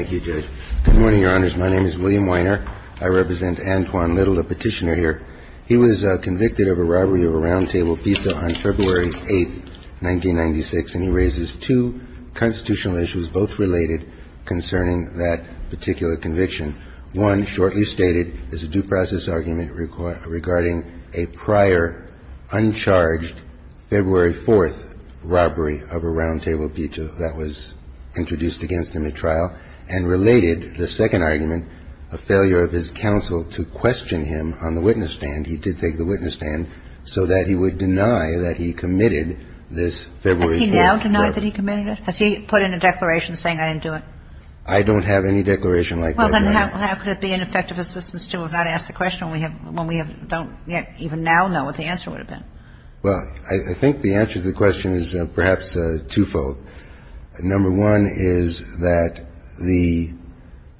Thank you, Judge. Good morning, Your Honors. My name is William Weiner. I represent Antoine Little, a petitioner here. He was convicted of a robbery of a roundtable pizza on February 8, 1996, and he raises two constitutional issues, both related concerning that particular conviction. One, shortly stated, is a due process argument regarding a prior, uncharged, February 4th robbery of a roundtable pizza that was introduced against him at trial, and related the second argument, a failure of his counsel to question him on the witness stand. He did take the witness stand so that he would deny that he committed this February 4th robbery. Has he now denied that he committed it? Has he put in a declaration saying, I didn't do it? I don't have any declaration like that right now. Well, then how could it be an effective assistance to have not asked the question when we have don't even now know what the answer would have been? Well, I think the answer to the question is perhaps twofold. Number one is that the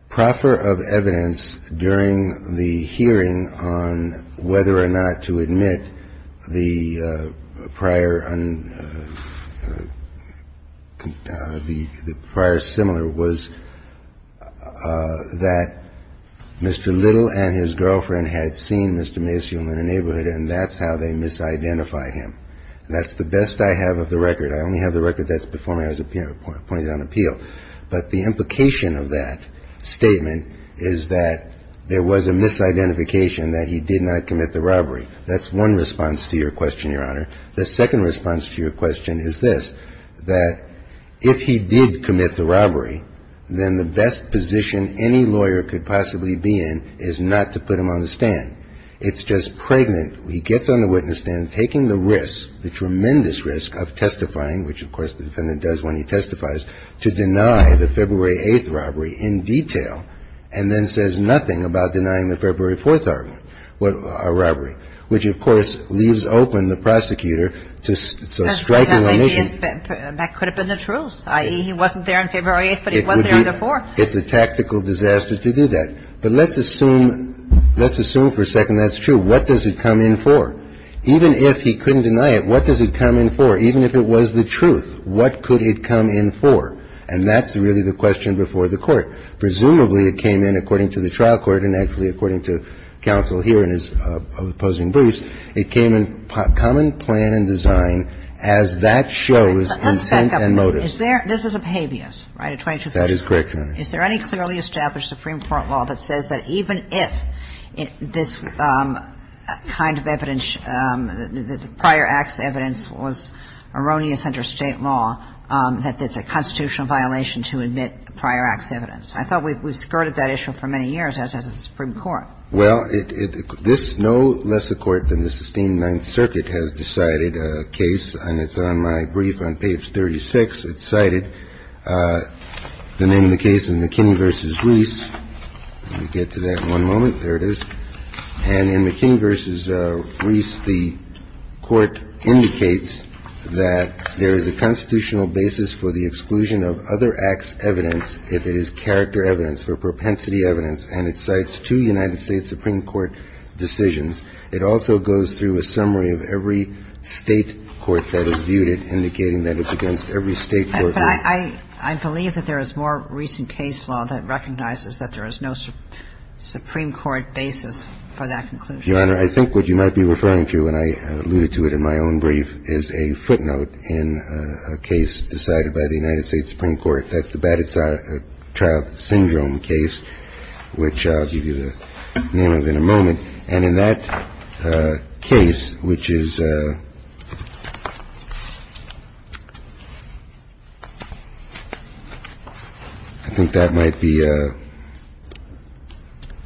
proffer of evidence during the hearing on whether or not to admit the prior un the prior similar was that Mr. Little and his girlfriend had seen Mr. Maciel in the neighborhood, and that's how they misidentified Mr. Maciel. That's the best I have of the record. I only have the record that's before me. I was appointed on appeal, but the implication of that statement is that there was a misidentification that he did not commit the robbery. That's one response to your question, Your Honor. The second response to your question is this, that if he did commit the robbery, then the best position any lawyer could possibly be in is not to put him on the stand, taking the risk, the tremendous risk of testifying, which, of course, the defendant does when he testifies, to deny the February 8th robbery in detail and then says nothing about denying the February 4th robbery, which, of course, leaves open the prosecutor to strike an admission. That could have been the truth, i.e., he wasn't there on February 8th, but he was there on the 4th. It's a tactical disaster to do that. But let's assume for a second that's true. What does it come in for? Even if he couldn't deny it, what does it come in for? Even if it was the truth, what could it come in for? And that's really the question before the Court. Presumably, it came in, according to the trial court, and actually, according to counsel here in his opposing briefs, it came in common plan and design as that shows intent and motive. Let's back up a minute. Is there – this is a habeas, right, a 2254? That is correct, Your Honor. Is there any clearly established Supreme Court law that says that even if this kind of evidence, prior acts evidence was erroneous under State law, that it's a constitutional violation to admit prior acts evidence? I thought we skirted that issue for many years, as has the Supreme Court. Well, it – this no lesser court than the Sistine Ninth Circuit has decided a case, and it's on my brief on page 36. It's cited, the name of the case in McKinney v. Reese. Let me get to that in one moment. There it is. And in McKinney v. Reese, the Court indicates that there is a constitutional basis for the exclusion of other acts evidence if it is character evidence or propensity evidence, and it cites two United States Supreme Court decisions. It also goes through a summary of every State court that is viewed it, indicating that it's against every State court that is viewed it. But I believe that there is more recent case law that recognizes that there is no Supreme Court basis for that conclusion. Your Honor, I think what you might be referring to, and I alluded to it in my own brief, is a footnote in a case decided by the United States Supreme Court. That's the Batted Child Syndrome case, which I'll give you the name of in a moment. And in that case, which is – I think that might be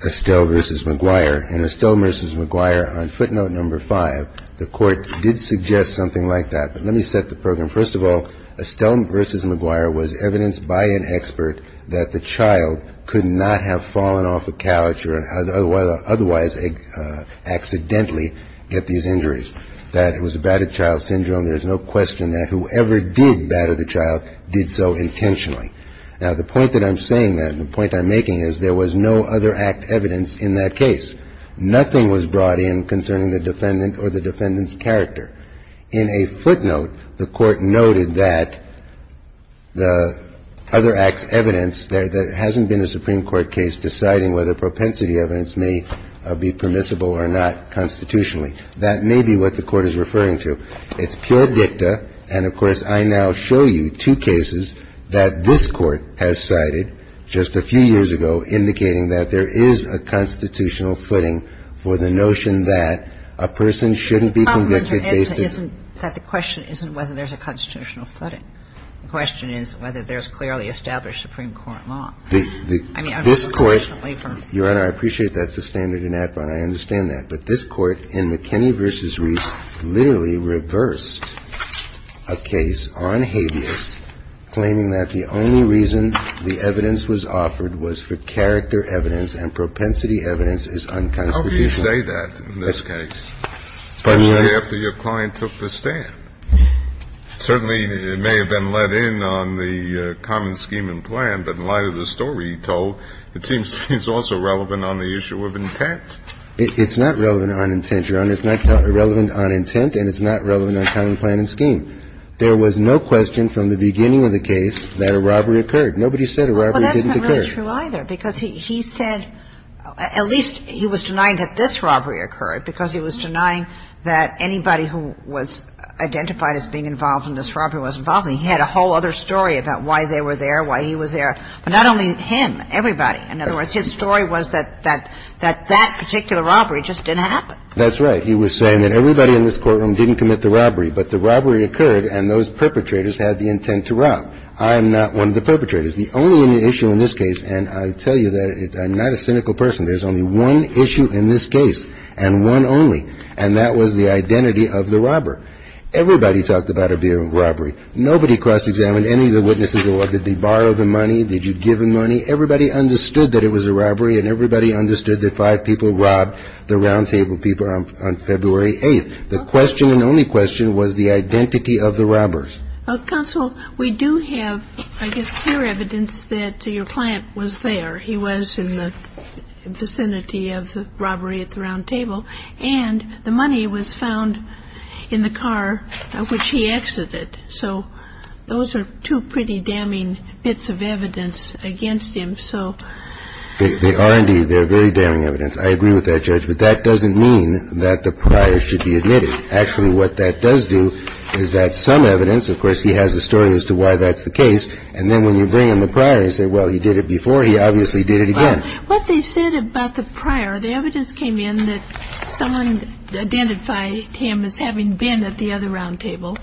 Estelle v. McGuire. In Estelle v. McGuire, on footnote number 5, the Court did suggest something like that. But let me set the program. First of all, Estelle v. McGuire was evidence by an expert that the child could not have fallen off a couch or otherwise accidentally get these injuries, that it was a battered child syndrome. There's no question that whoever did batter the child did so intentionally. Now, the point that I'm saying that, the point I'm making is there was no other act evidence in that case. Nothing was brought in concerning the defendant or the defendant's character. In a footnote, the Court noted that the other act's evidence that hasn't been a Supreme Court case deciding whether propensity evidence may be permissible or not constitutionally. That may be what the Court is referring to. It's pure dicta. And, of course, I now show you two cases that this Court has cited just a few years ago indicating that there is a constitutional footing for the notion that a person shouldn't be convicted based on the – The question isn't whether there's a constitutional footing. The question is whether there's clearly established Supreme Court law. The – this Court – Your Honor, I appreciate that's the standard in ADVON. I understand that. But this Court in McKinney v. Reiss literally reversed a case on habeas, claiming that the only reason the evidence was offered was for character evidence and propensity evidence is unconstitutional. How do you say that in this case, especially after your client took the stand? Certainly it may have been let in on the common scheme and plan, but in light of the story he told, it seems to me it's also relevant on the issue of intent. It's not relevant on intent, Your Honor. It's not relevant on intent, and it's not relevant on common plan and scheme. There was no question from the beginning of the case that a robbery occurred. Nobody said a robbery didn't occur. Well, that's not really true, either, because he said – at least he was denying that this robbery occurred, because he was denying that anybody who was identified as being involved in this robbery was involved in it. He had a whole other story about why they were there, why he was there. But not only him, everybody. In other words, his story was that that particular robbery just didn't happen. That's right. He was saying that everybody in this courtroom didn't commit the robbery, but the robbery occurred, and those perpetrators had the intent to rob. I am not one of the perpetrators. The only issue in this case, and I tell you that I'm not a cynical person, there's only one issue in this case, and one only, and that was the identity of the robber. Everybody talked about it being a robbery. Nobody cross-examined any of the witnesses or did they borrow the money, did you give them money. Everybody understood that it was a robbery, and everybody understood that five people robbed the roundtable people on February 8th. The question and only question was the identity of the robbers. Counsel, we do have, I guess, clear evidence that your client was there. He was in the vicinity of the robbery at the roundtable, and the money was found in the car which he exited. So those are two pretty damning bits of evidence against him, so. They are indeed. They're very damning evidence. I agree with that, Judge, but that doesn't mean that the prior should be admitted. Actually, what that does do is that some evidence, of course, he has a story as to why that's the case, and then when you bring in the prior, you say, well, he did it before. He obviously did it again. Well, what they said about the prior, the evidence came in that someone identified him as having been at the other roundtable.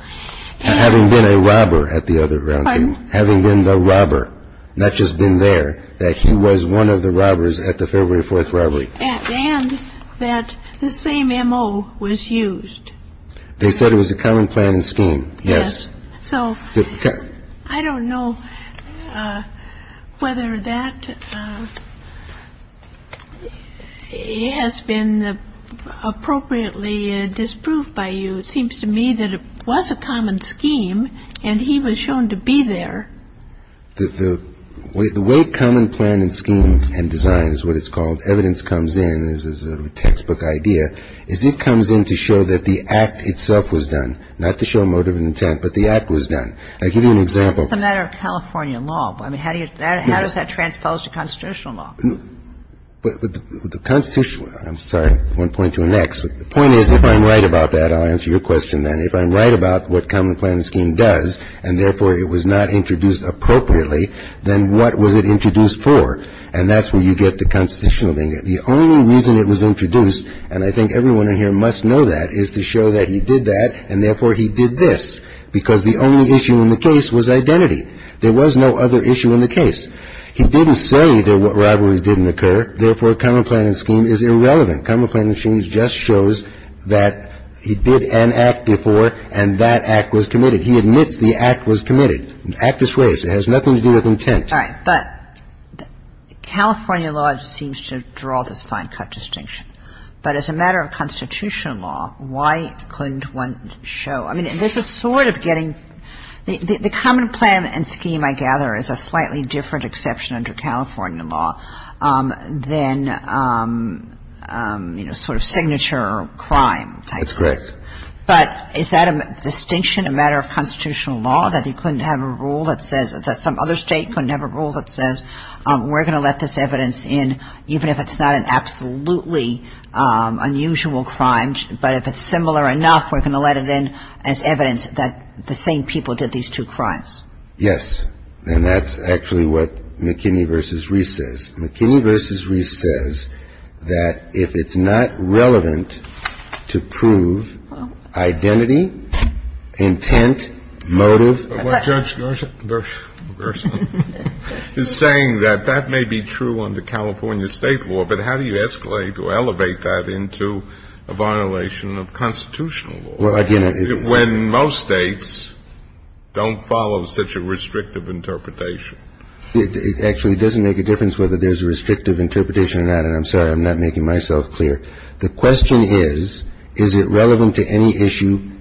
And having been a robber at the other roundtable, having been the robber, not just been there, that he was one of the robbers at the February 4th robbery. And that the same M.O. was used. They said it was a common plan and scheme, yes. So I don't know whether that has been appropriately disproved by you. It seems to me that it was a common scheme, and he was shown to be there. The way common plan and scheme and design is what it's called, evidence comes in, this is a textbook idea, is it comes in to show that the act itself was done, not to show motive and intent, but the act was done. I'll give you an example. It's a matter of California law. I mean, how do you – how does that transpose to constitutional law? The constitutional – I'm sorry, one point to the next. The point is, if I'm right about that, I'll answer your question then. If I'm right about what common plan and scheme does, and therefore it was not introduced appropriately, then what was it introduced for? And that's where you get the constitutional thing. The only reason it was introduced, and I think everyone in here must know that, is to show that he did that, and therefore he did this, because the only issue in the case was identity. There was no other issue in the case. He didn't say that rivalries didn't occur, therefore common plan and scheme is irrelevant. Common plan and scheme just shows that he did an act before, and that act was committed. He admits the act was committed. Act is raised. It has nothing to do with intent. All right. But California law seems to draw this fine cut distinction. But as a matter of constitutional law, why couldn't one show – I mean, this is sort of getting – the common plan and scheme, I gather, is a slightly different exception under California law than, you know, sort of signature or crime type. That's correct. But is that a distinction, a matter of constitutional law, that he couldn't have a rule that says – that some other state couldn't have a rule that says, we're going to let this evidence in, even if it's not an absolutely unusual crime, but if it's similar enough, we're going to let it in as evidence that the same people did these two crimes? Yes. And that's actually what McKinney v. Reese says. McKinney v. Reese says that if it's not relevant to prove identity, intent, motive – But Judge Gershwin is saying that that may be true under California state law, but how do you escalate or elevate that into a violation of constitutional law when most states don't follow such a restrictive interpretation? It actually doesn't make a difference whether there's a restrictive interpretation or not, and I'm sorry, I'm not making myself clear. The question is, is it relevant to any issue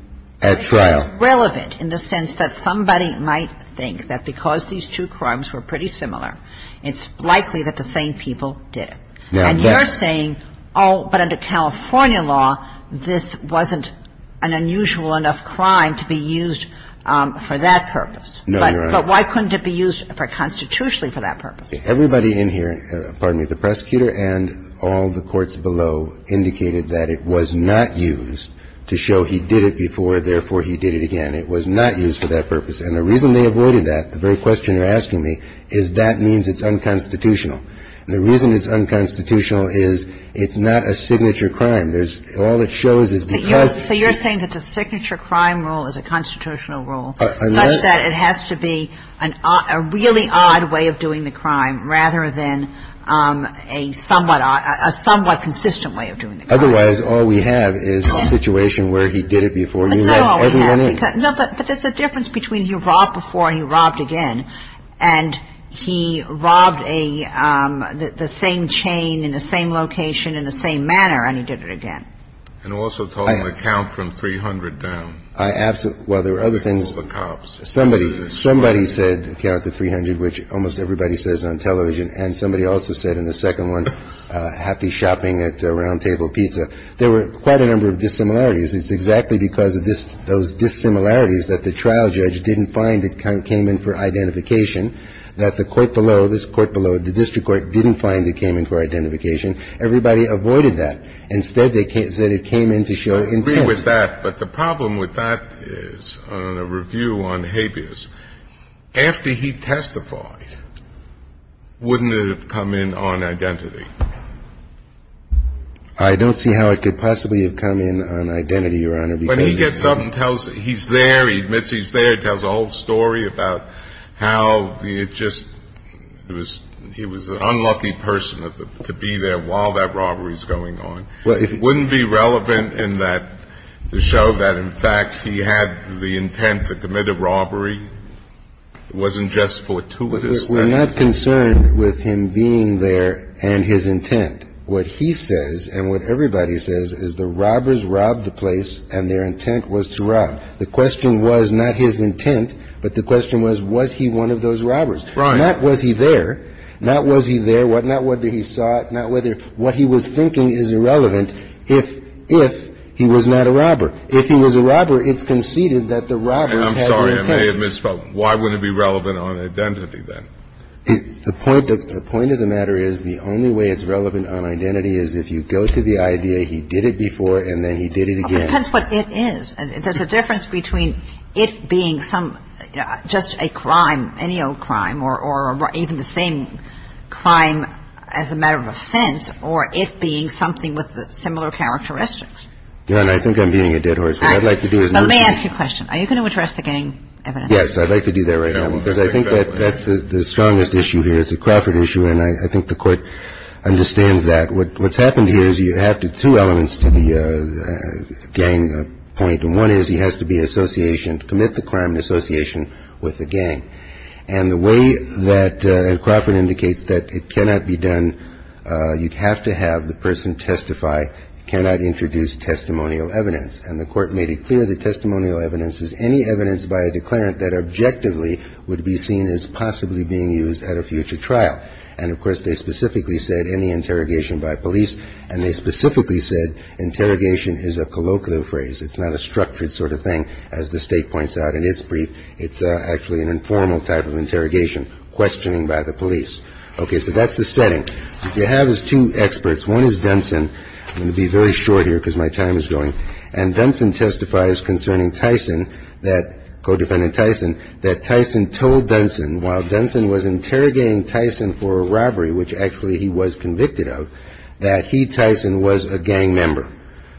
at trial? It's relevant in the sense that somebody might think that because these two crimes were pretty similar, it's likely that the same people did it. And you're saying, oh, but under California law, this wasn't an unusual enough crime to be used for that purpose. No, Your Honor. But why couldn't it be used for – constitutionally for that purpose? Everybody in here – pardon me – the prosecutor and all the courts below indicated that it was not used to show he did it before, therefore he did it again. It was not used for that purpose. And the reason they avoided that, the very question you're asking me, is that means it's unconstitutional. And the reason it's unconstitutional is it's not a signature crime. There's – all it shows is because – So you're saying that the signature crime rule is a constitutional rule such that it has to be a really odd way of doing the crime rather than a somewhat odd – a somewhat consistent way of doing the crime? Otherwise, all we have is a situation where he did it before you let everyone in. No, but there's a difference between he robbed before and he robbed again. And he robbed a – the same chain in the same location in the same manner and he did it again. And also, though, on the count from 300 down. I – well, there are other things. All the cops. Somebody said, count to 300, which almost everybody says on television. And somebody also said in the second one, happy shopping at Round Table Pizza. There were quite a number of dissimilarities. It's exactly because of this – those dissimilarities that the trial judge didn't find it came in for identification, that the court below, this court below, the district court, didn't find it came in for identification. Everybody avoided that. Instead, they said it came in to show intent. I agree with that. But the problem with that is, on a review on habeas, after he testified, wouldn't it have come in on identity? I don't see how it could possibly have come in on identity, Your Honor. But he gets up and tells – he's there. He admits he's there. He tells a whole story about how it just – it was – he was an unlucky person to be there while that robbery is going on. Wouldn't it be relevant in that to show that, in fact, he had the intent to commit a robbery? It wasn't just fortuitous that he was there. We're not concerned with him being there and his intent. What he says and what everybody says is the robbers robbed the place and their intent was to rob. The question was not his intent, but the question was, was he one of those robbers? Right. Not was he there. Not was he there. The point of the matter is, the only way it's relevant on identity is if you go to the IDA, he did it before, and then he did it again. It depends what it is. There's a difference between it being some – just a crime, any old crime, or even the same crime as the robbery, and it being a robbery. The question is, is it relevant to the crime as a matter of offense, or it being something with similar characteristics? Yeah, and I think I'm beating a dead horse. What I'd like to do is move to the next point. Let me ask you a question. Are you going to address the gang evidence? Yes, I'd like to do that right now, because I think that's the strongest issue here. It's a Crawford issue, and I think the Court understands that. What's happened here is you have two elements to the gang point, and one is he has to be in association – and the way that Crawford indicates that it cannot be done, you have to have the person testify, cannot introduce testimonial evidence. And the Court made it clear that testimonial evidence is any evidence by a declarant that objectively would be seen as possibly being used at a future trial. And, of course, they specifically said any interrogation by police, and they specifically said interrogation is a colloquial phrase. It's not a structured sort of thing, as the State points out in its brief. It's actually an informal type of interrogation, questioning by the police. Okay. So that's the setting. What you have is two experts. One is Dunson. I'm going to be very short here, because my time is going. And Dunson testifies concerning Tyson, co-defendant Tyson, that Tyson told Dunson, while Dunson was interrogating Tyson for a robbery, which actually he was convicted of, that he, Tyson, was a gang member.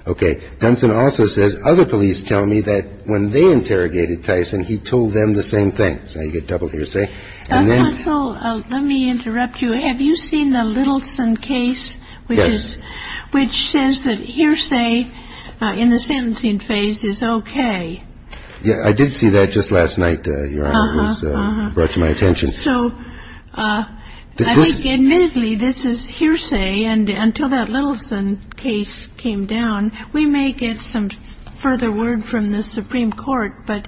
Okay. Dunson also says, other police tell me that when they interrogated Tyson, he told them the same thing. So you get double hearsay. And then. Counsel, let me interrupt you. Have you seen the Littleson case? Yes. Which says that hearsay in the sentencing phase is okay. Yeah. I did see that just last night, Your Honor. It was brought to my attention. So I think, admittedly, this is hearsay. And until that Littleson case came down, we may get some further word from the Supreme Court. But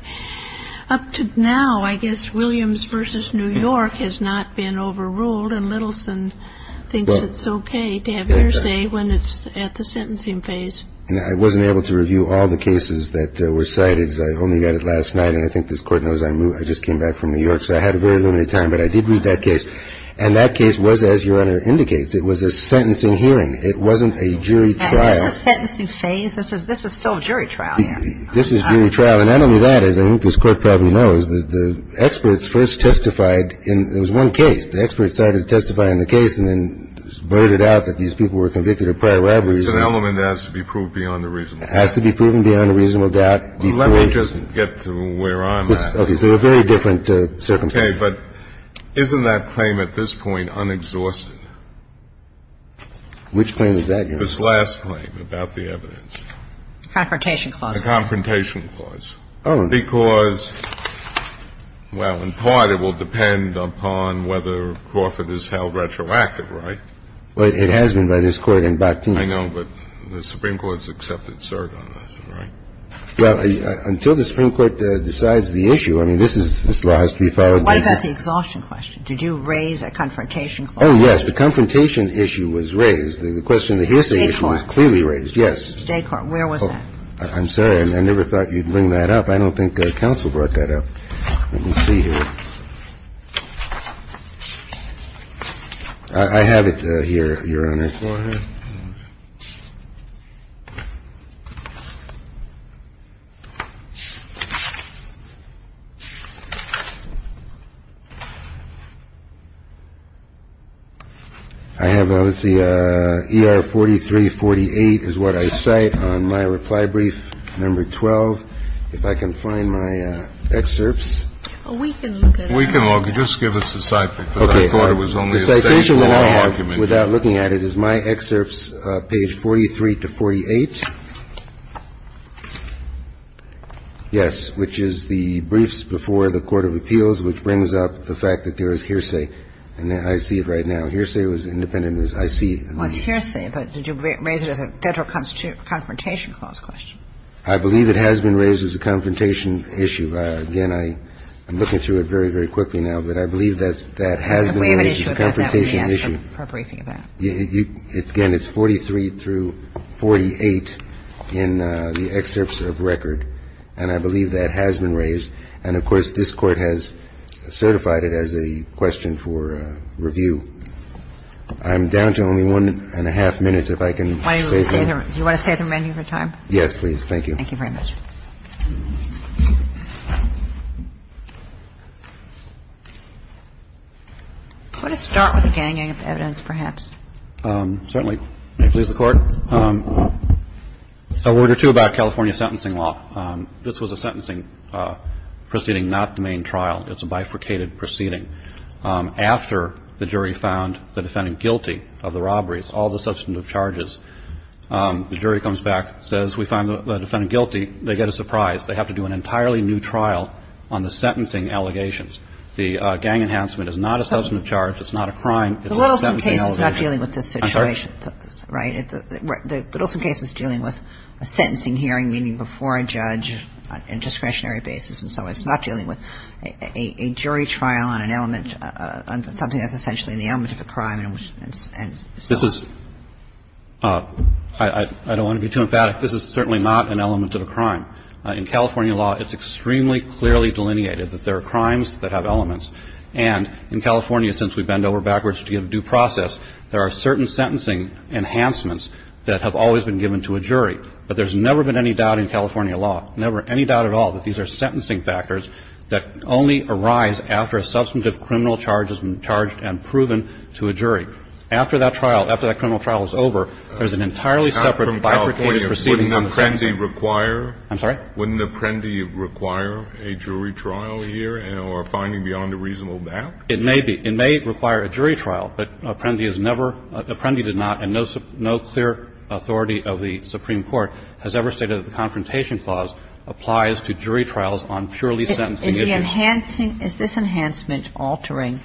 up to now, I guess Williams v. New York has not been overruled. And Littleson thinks it's okay to have hearsay when it's at the sentencing phase. And I wasn't able to review all the cases that were cited, because I only got it last night. And I think this Court knows I just came back from New York. So I had a very limited time. But I did read that case. And that case was, as Your Honor indicates, it was a sentencing hearing. It wasn't a jury trial. And this is a sentencing phase? This is still jury trial, Andy. This is jury trial. And not only that, as I think this Court probably knows, the experts first testified in one case. The experts started testifying in the case and then blurted out that these people were convicted of prior robberies. It's an element that has to be proved beyond a reasonable doubt. It has to be proven beyond a reasonable doubt. Let me just get to where I'm at. This is a very different circumstance. Okay. But isn't that claim at this point unexhausted? Which claim is that, Your Honor? This last claim about the evidence. The Confrontation Clause. The Confrontation Clause. Oh. Because, well, in part, it will depend upon whether Crawford is held retroactive, right? Well, it has been by this Court in Bakhtin. I know. But the Supreme Court has accepted cert on that, right? Well, until the Supreme Court decides the issue, I mean, this is, this law has to be followed. What about the exhaustion question? Did you raise a Confrontation Clause? Oh, yes. The Confrontation issue was raised. The question that you're saying is clearly raised. State court. Yes. State court. Where was that? I'm sorry. I never thought you'd bring that up. I don't think counsel brought that up. Let me see here. I have it here, Your Honor. I have, let's see, ER 4348 is what I cite on my reply brief, number 12. If I can find my excerpts. We can look at it. We can look at it. Just give us a side pick. Okay. The citation that I have, without looking at it, is my excerpts, page 43 to 48. Yes. Which is the briefs before the court of appeals, which brings up the fact that there is hearsay. And I see it right now. Hearsay was independent. I see it. What's hearsay? Did you raise it as a Federal Confrontation Clause question? I believe it has been raised as a confrontation issue. Again, I'm looking through it very, very quickly now. But I believe that has been raised as a confrontation issue. Again, it's 43 through 48 in the excerpts of record. And I believe that has been raised. And, of course, this Court has certified it as a question for review. I'm down to only one and a half minutes, if I can save that. Do you want to save the menu for time? Yes, please. Thank you very much. Could I start with the gang evidence, perhaps? Certainly. May it please the Court. A word or two about California sentencing law. This was a sentencing proceeding, not the main trial. It's a bifurcated proceeding. After the jury found the defendant guilty of the robberies, all the substantive charges, the jury comes back, says we found the defendant guilty. They get a surprise. They have to do an entirely new trial on the sentencing allegations. The gang enhancement is not a substantive charge. It's not a crime. It's a sentencing allegation. The Wilson case is not dealing with this situation. I'm sorry? Right. The Wilson case is dealing with a sentencing hearing, meaning before a judge on a discretionary basis. And so it's not dealing with a jury trial on an element, something that's essentially an element of a crime and so on. This is – I don't want to be too emphatic. This is certainly not an element of a crime. In California law, it's extremely clearly delineated that there are crimes that have elements. And in California, since we bend over backwards to get a due process, there are certain sentencing enhancements that have always been given to a jury. But there's never been any doubt in California law, never any doubt at all, that these are sentencing factors that only arise after a substantive criminal charge has been charged and proven to a jury. After that trial, after that criminal trial is over, there's an entirely separate bifurcated proceeding on the sentencing. I'm sorry? Wouldn't an apprendi require a jury trial here or finding beyond a reasonable back? It may be. It may require a jury trial. But apprendi has never – apprendi did not and no clear authority of the Supreme Court has ever stated that the Confrontation Clause applies to jury trials on purely sentencing issues. Is the enhancing – is this enhancement altering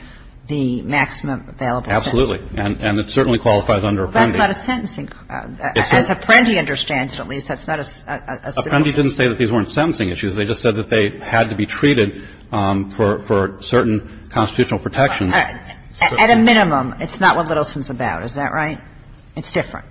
the maximum available sentences? Absolutely. And it certainly qualifies under apprendi. Well, that's not a sentencing – as apprendi understands, at least, that's not a sentencing issue. Apprendi didn't say that these weren't sentencing issues. They just said that they had to be treated for certain constitutional protections. At a minimum, it's not what Littleson's about. Is that right? It's different.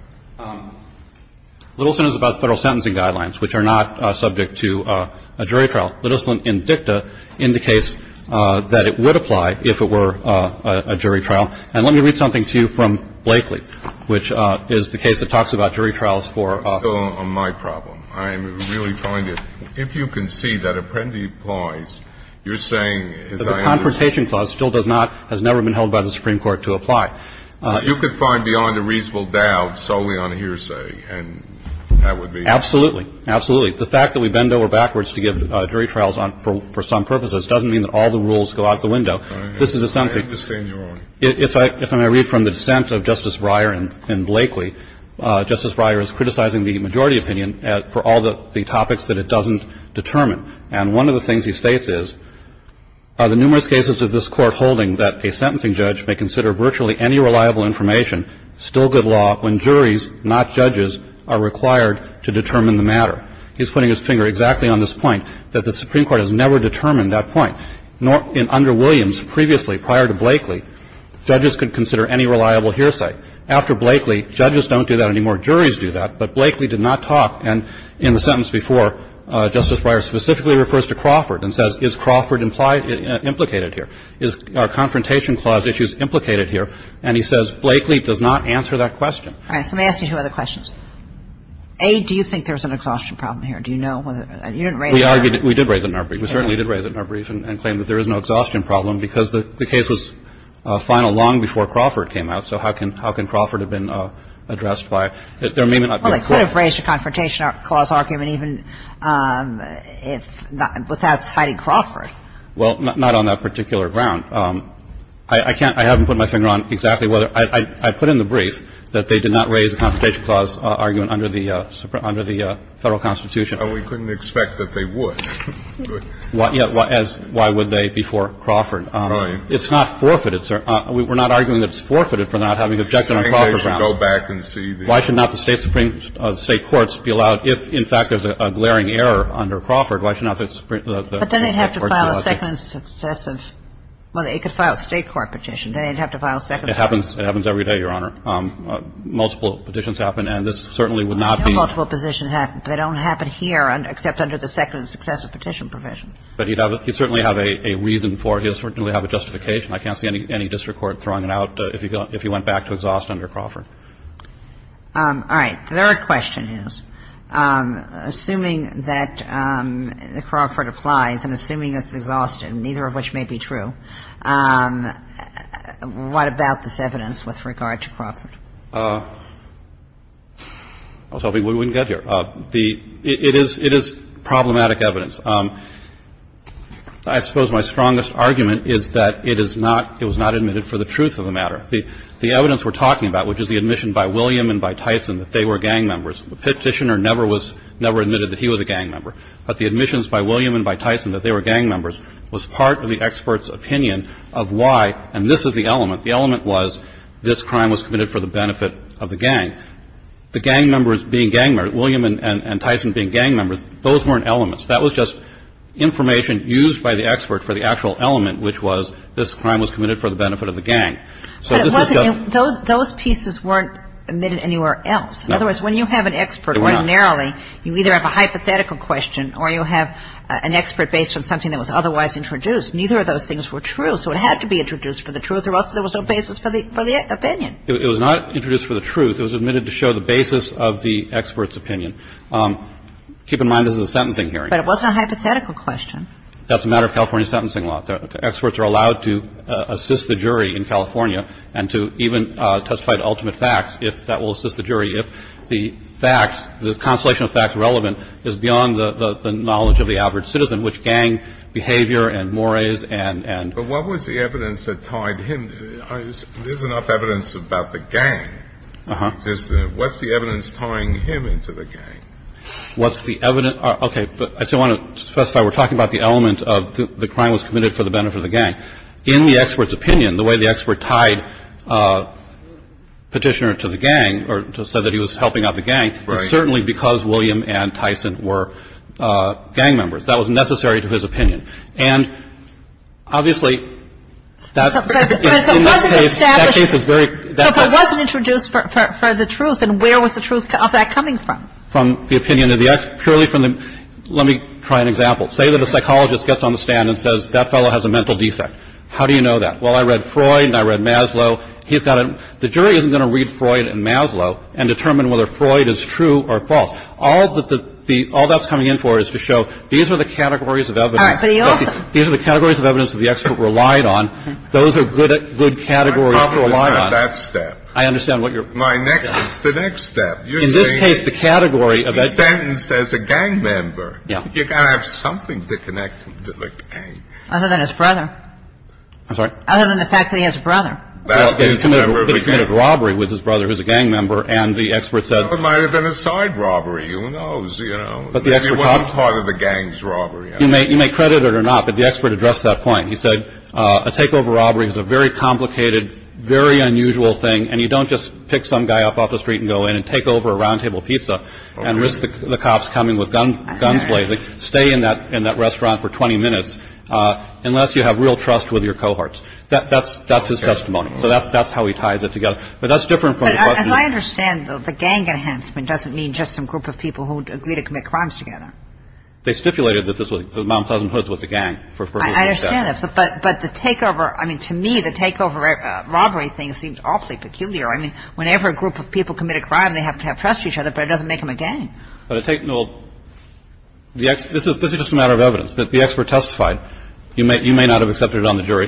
Littleson is about Federal sentencing guidelines, which are not subject to a jury trial. Littleson in dicta indicates that it would apply if it were a jury trial. And let me read something to you from Blakely, which is the case that talks about jury trials for – It's still on my problem. I really find it – if you can see that apprendi applies, you're saying, as I understand – The Confrontation Clause still does not – has never been held by the Supreme Court to apply. You could find beyond a reasonable doubt solely on a hearsay, and that would be – Absolutely. Absolutely. The fact that we bend over backwards to give jury trials for some purposes doesn't mean that all the rules go out the window. This is a sentencing – I don't understand your argument. If I may read from the dissent of Justice Breyer in Blakely, Justice Breyer is criticizing the majority opinion for all the topics that it doesn't determine. And one of the things he states is, the numerous cases of this Court holding that a sentencing judge may consider virtually any reliable information still good law when juries, not judges, are required to determine the matter. He's putting his finger exactly on this point, that the Supreme Court has never determined that point. Under Williams, previously, prior to Blakely, judges could consider any reliable hearsay. After Blakely, judges don't do that anymore. Juries do that. But Blakely did not talk. And in the sentence before, Justice Breyer specifically refers to Crawford and says, is Crawford implied – implicated here? Is our Confrontation Clause issues implicated here? And he says, Blakely does not answer that question. All right. So let me ask you two other questions. A, do you think there's an exhaustion problem here? Do you know whether – you didn't raise it in our brief. We certainly did raise it in our brief and claim that there is no exhaustion problem because the case was final long before Crawford came out. So how can – how can Crawford have been addressed by – there may not be a – Well, they could have raised a Confrontation Clause argument even if – without citing Crawford. Well, not on that particular ground. I can't – I haven't put my finger on exactly whether – I put in the brief that they did not raise a Confrontation Clause argument under the Federal Constitution. And we couldn't expect that they would. Yeah. Why would they before Crawford? Right. It's not forfeited. We're not arguing that it's forfeited for not having an objection on Crawford ground. I think they should go back and see the – Why should not the State Supreme – the State courts be allowed – if, in fact, there's a glaring error under Crawford, why should not the Supreme – But then they'd have to file a second successive – well, they could file a State court petition. Then they'd have to file a second – It happens. It happens every day, Your Honor. Multiple petitions happen, and this certainly would not be – No multiple positions happen. They don't happen here, except under the second successive petition provision. But he'd have – he'd certainly have a reason for it. He'd certainly have a justification. I can't see any district court throwing it out if he went back to exhaust under Crawford. All right. The third question is, assuming that Crawford applies and assuming it's exhausted, I was hoping we wouldn't get here. The – it is – it is problematic evidence. I suppose my strongest argument is that it is not – it was not admitted for the truth of the matter. The evidence we're talking about, which is the admission by William and by Tyson that they were gang members, the petitioner never was – never admitted that he was a gang member. But the admissions by William and by Tyson that they were gang members was part of the expert's opinion of why – and this is the element. The element was this crime was committed for the benefit of the gang. The gang members being gang members, William and Tyson being gang members, those weren't elements. That was just information used by the expert for the actual element, which was this crime was committed for the benefit of the gang. But it wasn't – those pieces weren't admitted anywhere else. No. Otherwise, when you have an expert ordinarily, you either have a hypothetical question or you have an expert based on something that was otherwise introduced. Neither of those things were true, so it had to be introduced for the truth or there was no basis for the – for the opinion. It was not introduced for the truth. It was admitted to show the basis of the expert's opinion. Keep in mind this is a sentencing hearing. But it wasn't a hypothetical question. That's a matter of California sentencing law. Experts are allowed to assist the jury in California and to even testify to ultimate facts if that will assist the jury if the facts, the constellation of facts relevant is beyond the knowledge of the average citizen, which gang behavior and mores and – But what was the evidence that tied him – there's enough evidence about the gang. Uh-huh. What's the evidence tying him into the gang? What's the evidence – okay. I still want to specify we're talking about the element of the crime was committed for the benefit of the gang. In the expert's opinion, the way the expert tied Petitioner to the gang or said that he was helping out the gang was certainly because William and Tyson were gang members. That was necessary to his opinion. And obviously, that's – But if it wasn't established – That case is very – But if it wasn't introduced for the truth, then where was the truth of that coming from? From the opinion of the – purely from the – let me try an example. Say that a psychologist gets on the stand and says that fellow has a mental defect. How do you know that? Well, I read Freud and I read Maslow. He's got a – the jury isn't going to read Freud and Maslow and determine whether Freud is true or false. All that the – all that's coming in for is to show these are the categories of evidence – All right. But he also – These are the categories of evidence that the expert relied on. Those are good – good categories to rely on. I understand that step. I understand what you're – My next – it's the next step. You're saying – In this case, the category of – He's sentenced as a gang member. Yeah. You've got to have something to connect him to the gang. Other than his brother. I'm sorry? Other than the fact that he has a brother. Well, he committed a robbery with his brother, who's a gang member, and the expert said – It might have been a side robbery. Who knows, you know? But the expert – It wasn't part of the gang's robbery. You may credit it or not, but the expert addressed that point. He said a takeover robbery is a very complicated, very unusual thing, and you don't just pick some guy up off the street and go in and take over a round table pizza and risk the cops coming with guns blazing. Stay in that restaurant for 20 minutes unless you have real trust with your cohorts. That's his testimony. So that's how he ties it together. But that's different from the question – But as I understand, the gang enhancement doesn't mean just some group of people who agree to commit crimes together. They stipulated that Mount Pleasant Hoods was a gang. I understand that. But the takeover – I mean, to me, the takeover robbery thing seemed awfully peculiar. I mean, whenever a group of people commit a crime, they have to have trust in each other, but it doesn't make them a gang. But it takes – well, this is just a matter of evidence that the expert testified. You may not have accepted it on the jury.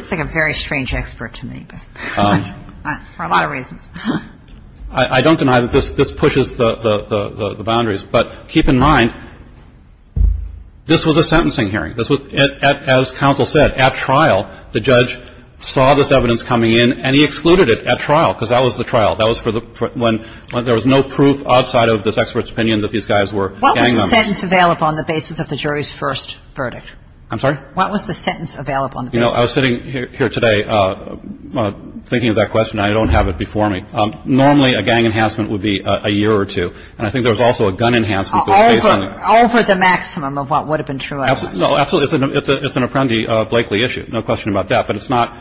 I don't deny that this pushes the boundaries. But keep in mind, this was a sentencing hearing. As counsel said, at trial, the judge saw this evidence coming in, and he excluded it at trial because that was the trial. That was for the – when there was no proof outside of this expert's opinion that these guys were gang members. What was the sentence available on the basis of the jury's first verdict? I'm sorry? What was the sentence available on the basis of the jury's first verdict? You know, I was sitting here today thinking of that question. I don't have it before me. Normally, a gang enhancement would be a year or two. And I think there was also a gun enhancement. Over the maximum of what would have been true evidence. No, absolutely. It's an Apprendi-Blakely issue. No question about that. But it's not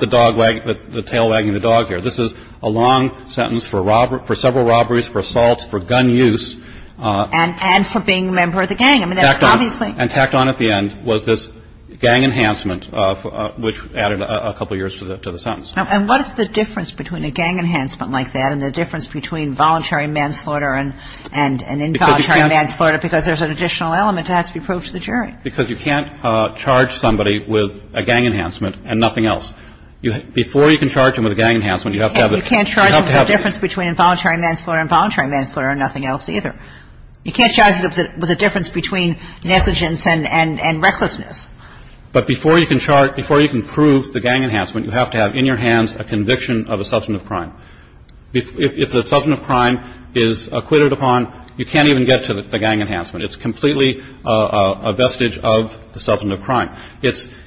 the dog wagging – the tail wagging the dog here. This is a long sentence for several robberies, for assaults, for gun use. And for being a member of the gang. I mean, that's obviously – And tacked on at the end was this gang enhancement, which added a couple years to the sentence. And what is the difference between a gang enhancement like that and the difference between voluntary manslaughter and involuntary manslaughter? Because there's an additional element that has to be proved to the jury. Because you can't charge somebody with a gang enhancement and nothing else. Before you can charge them with a gang enhancement, you have to have the – You can't charge them with a difference between involuntary manslaughter and voluntary manslaughter and nothing else either. You can't charge them with a difference between negligence and recklessness. But before you can charge – before you can prove the gang enhancement, you have to have in your hands a conviction of a substantive crime. If the substantive crime is acquitted upon, you can't even get to the gang enhancement. It's completely a vestige of the substantive crime. It's –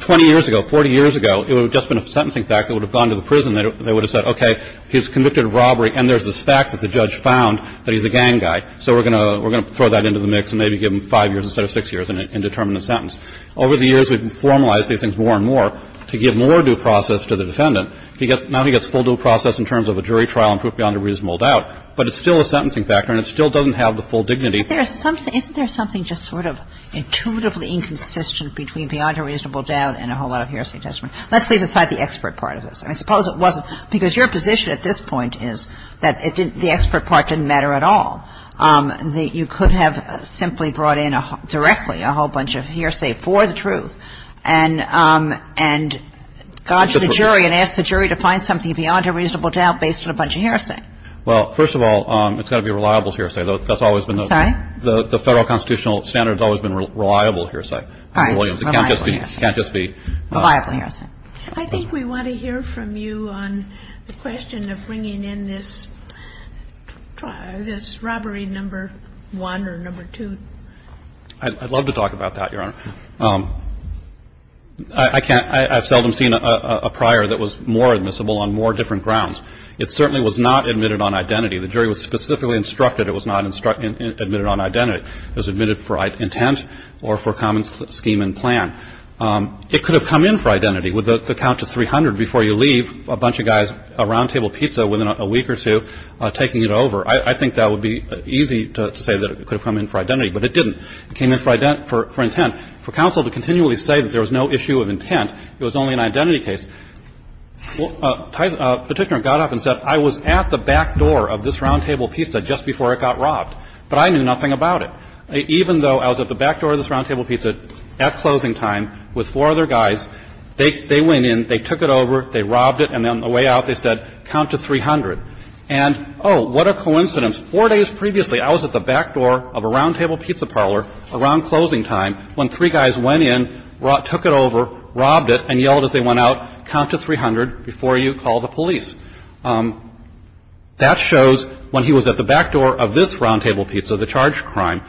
20 years ago, 40 years ago, it would have just been a sentencing fact. It would have gone to the prison. They would have said, okay, he's convicted of robbery and there's this fact that the judge found that he's a gang guy. So we're going to – we're going to throw that into the mix and maybe give him 5 years instead of 6 years and determine the sentence. Over the years, we've formalized these things more and more to give more due process to the defendant. He gets – now he gets full due process in terms of a jury trial and proof beyond a reasonable doubt. But it's still a sentencing factor and it still doesn't have the full dignity. Kagan. Isn't there something just sort of intuitively inconsistent between beyond a reasonable doubt and a whole lot of heresy testimony? Let's leave aside the expert part of this. I mean, suppose it wasn't – because your position at this point is that it didn't – the expert part didn't matter at all. You could have simply brought in directly a whole bunch of heresy for the truth and gone to the jury and asked the jury to find something beyond a reasonable doubt based on a bunch of heresy. Well, first of all, it's got to be a reliable heresy. That's always been the – Sorry? The federal constitutional standard has always been reliable heresy. Right. Reliable heresy. It can't just be – Reliable heresy. I think we want to hear from you on the question of bringing in this robbery number one or number two. I'd love to talk about that, Your Honor. I can't – I've seldom seen a prior that was more admissible on more different grounds. It certainly was not admitted on identity. The jury was specifically instructed it was not admitted on identity. It was admitted for intent or for common scheme and plan. It could have come in for identity with the count to 300 before you leave, a bunch of guys, a roundtable pizza within a week or two, taking it over. I think that would be easy to say that it could have come in for identity, but it didn't. It came in for intent. For counsel to continually say that there was no issue of intent, it was only an identity case. A Petitioner got up and said, I was at the back door of this roundtable pizza just before it got robbed, but I knew nothing about it. Even though I was at the back door of this roundtable pizza at closing time with four other guys, they went in, they took it over, they robbed it, and on the way out they said, count to 300. And, oh, what a coincidence. Four days previously, I was at the back door of a roundtable pizza parlor around closing time when three guys went in, took it over, robbed it, and yelled as they went out, count to 300 before you call the police. That shows when he was at the back door of this roundtable pizza, the charged crime,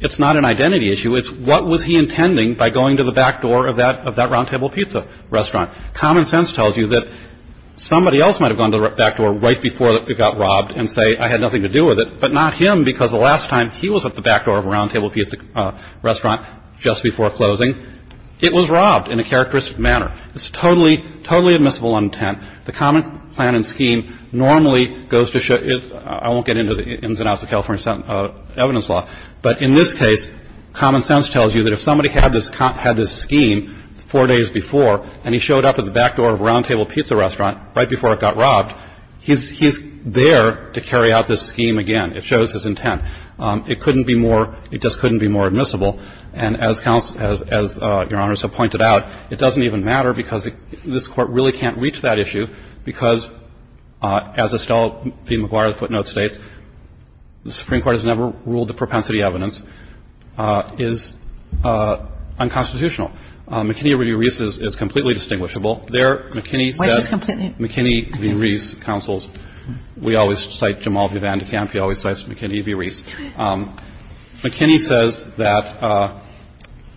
it's not an identity issue. It's what was he intending by going to the back door of that roundtable pizza restaurant. Common sense tells you that somebody else might have gone to the back door right before it got robbed and say, I had nothing to do with it, but not him because the last time he was at the back door of a roundtable pizza restaurant just before closing, it was robbed in a characteristic manner. It's totally, totally admissible on intent. The common plan and scheme normally goes to show you, I won't get into the ins and outs of the California evidence law, but in this case, common sense tells you that if somebody had this scheme four days before and he showed up at the back door of a roundtable pizza restaurant right before it got robbed, he's there to carry out this scheme again. It shows his intent. It couldn't be more, it just couldn't be more admissible. And as your Honor so pointed out, it doesn't even matter because this Court really can't reach that issue because, as Estelle v. McGuire footnote states, the Supreme Court has never ruled that propensity evidence is unconstitutional. McKinney v. Reese is completely distinguishable. There, McKinney says, McKinney v. Reese counsels. We always cite Jamal v. Van de Kamp. He always cites McKinney v. Reese. McKinney says that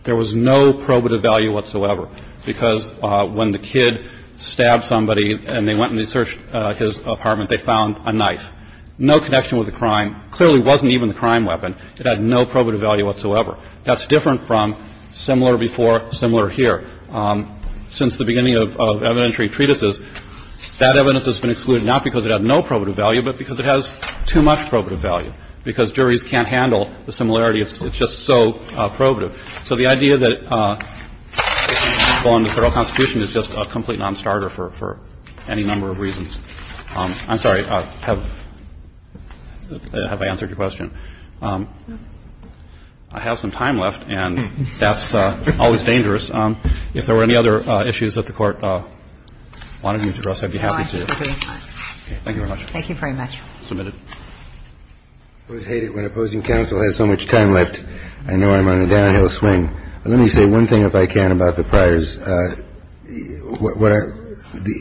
there was no probative value whatsoever because when the kid stood up and stabbed somebody and they went and they searched his apartment, they found a knife. No connection with the crime. Clearly wasn't even the crime weapon. It had no probative value whatsoever. That's different from similar before, similar here. Since the beginning of evidentiary treatises, that evidence has been excluded, not because it had no probative value, but because it has too much probative value because juries can't handle the similarity. It's just so probative. So the idea that it's unconstitutional in the Federal Constitution is just a complete nonstarter for any number of reasons. I'm sorry. Have I answered your question? I have some time left, and that's always dangerous. If there were any other issues that the Court wanted me to address, I'd be happy to. Thank you very much. Thank you very much. Submitted. I always hate it when opposing counsel has so much time left. I know I'm on a downhill swing. Let me say one thing, if I can, about the Pryor's.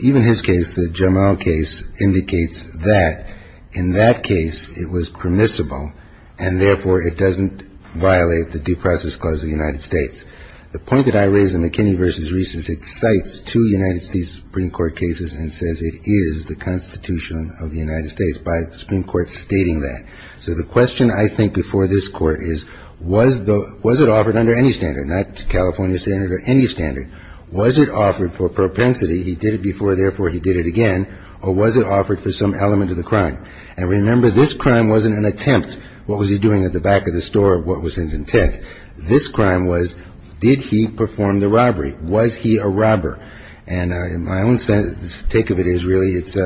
Even his case, the Jamal case, indicates that in that case it was permissible and, therefore, it doesn't violate the Due Process Clause of the United States. The point that I raise in McKinney v. Reese is it cites two United States Supreme Court cases and says it is the Constitution of the United States by the Supreme Court stating that. So the question, I think, before this Court is was it offered under any standard, not California standard or any standard? Was it offered for propensity? He did it before, therefore, he did it again. Or was it offered for some element of the crime? And remember, this crime wasn't an attempt. What was he doing at the back of the store? What was his intent? This crime was did he perform the robbery? Was he a robber? And my own take of it is, really, it's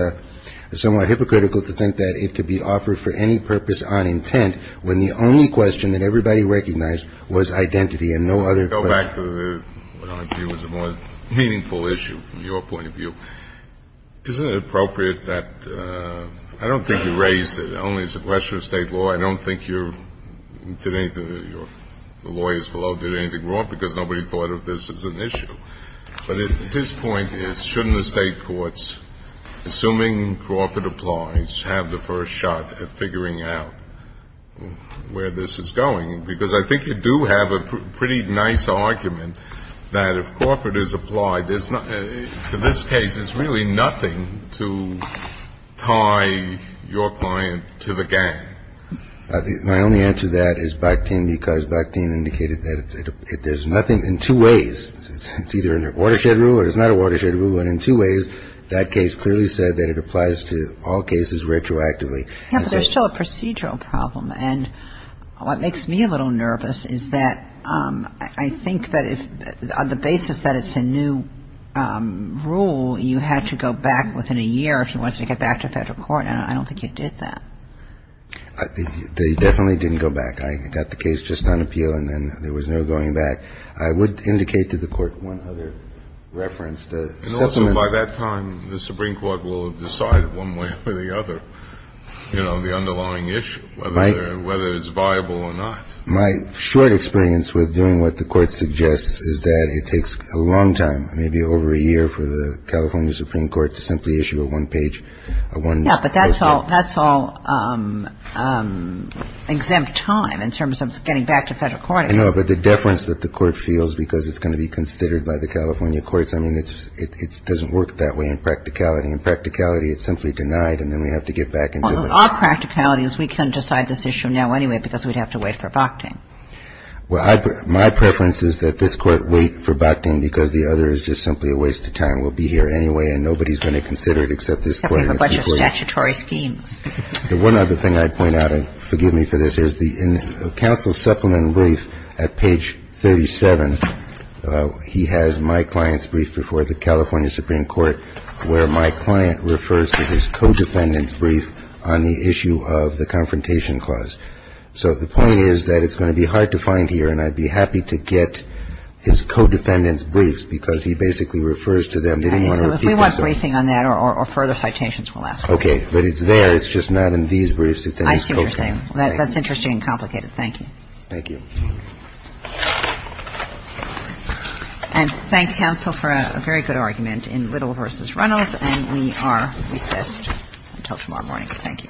somewhat hypocritical to think that it could be offered for any purpose on intent when the only question that everybody recognized was identity and no other question. Go back to what I view as a more meaningful issue from your point of view. Isn't it appropriate that ‑‑ I don't think you raised it, only as a question of State law. I don't think your lawyers below did anything wrong because nobody thought of this as an issue. But his point is, shouldn't the State courts, assuming Crawford applies, have the first shot at figuring out where this is going? Because I think you do have a pretty nice argument that if Crawford is applied, to this case, there's really nothing to tie your client to the gang. My only answer to that is Bakhtin, because Bakhtin indicated that there's nothing to tie your client to the gang. And I don't think you did that. In two ways, it's either a watershed rule or it's not a watershed rule. And in two ways, that case clearly said that it applies to all cases retroactively. Yeah, but there's still a procedural problem. And what makes me a little nervous is that I think that on the basis that it's a new rule, you had to go back within a year if you wanted to get back to Federal court, and I don't think you did that. They definitely didn't go back. I got the case just on appeal, and then there was no going back. I would indicate to the Court one other reference. And also by that time, the Supreme Court will have decided one way or the other, you know, the underlying issue, whether it's viable or not. My short experience with doing what the Court suggests is that it takes a long time, maybe over a year, for the California Supreme Court to simply issue a one-page Yeah, but that's all exempt time in terms of getting back to Federal court. I know, but the deference that the Court feels because it's going to be considered by the California courts, I mean, it doesn't work that way in practicality. In practicality, it's simply denied, and then we have to get back into it. Our practicality is we can decide this issue now anyway because we'd have to wait for Bakhtin. Well, my preference is that this Court wait for Bakhtin because the other is just simply a waste of time. I mean, we're going to wait for Bakhtin. We'll be here anyway, and nobody's going to consider it except this Court. We have a bunch of statutory schemes. The one other thing I'd point out, and forgive me for this, is in the counsel's supplement brief at page 37, he has my client's brief before the California Supreme Court where my client refers to his co-defendant's brief on the issue of the Confrontation Clause. So the point is that it's going to be hard to find here, and I'd be happy to get his co-defendant's briefs because he basically refers to them. They didn't want to repeat themselves. Okay. So if we want briefing on that or further citations, we'll ask for it. Okay. But it's there. It's just not in these briefs. It's in his co-defendant's brief. I see what you're saying. That's interesting and complicated. Thank you. Thank you. And thank counsel for a very good argument in Little v. Reynolds, and we are recessed until tomorrow morning. Thank you. All rise.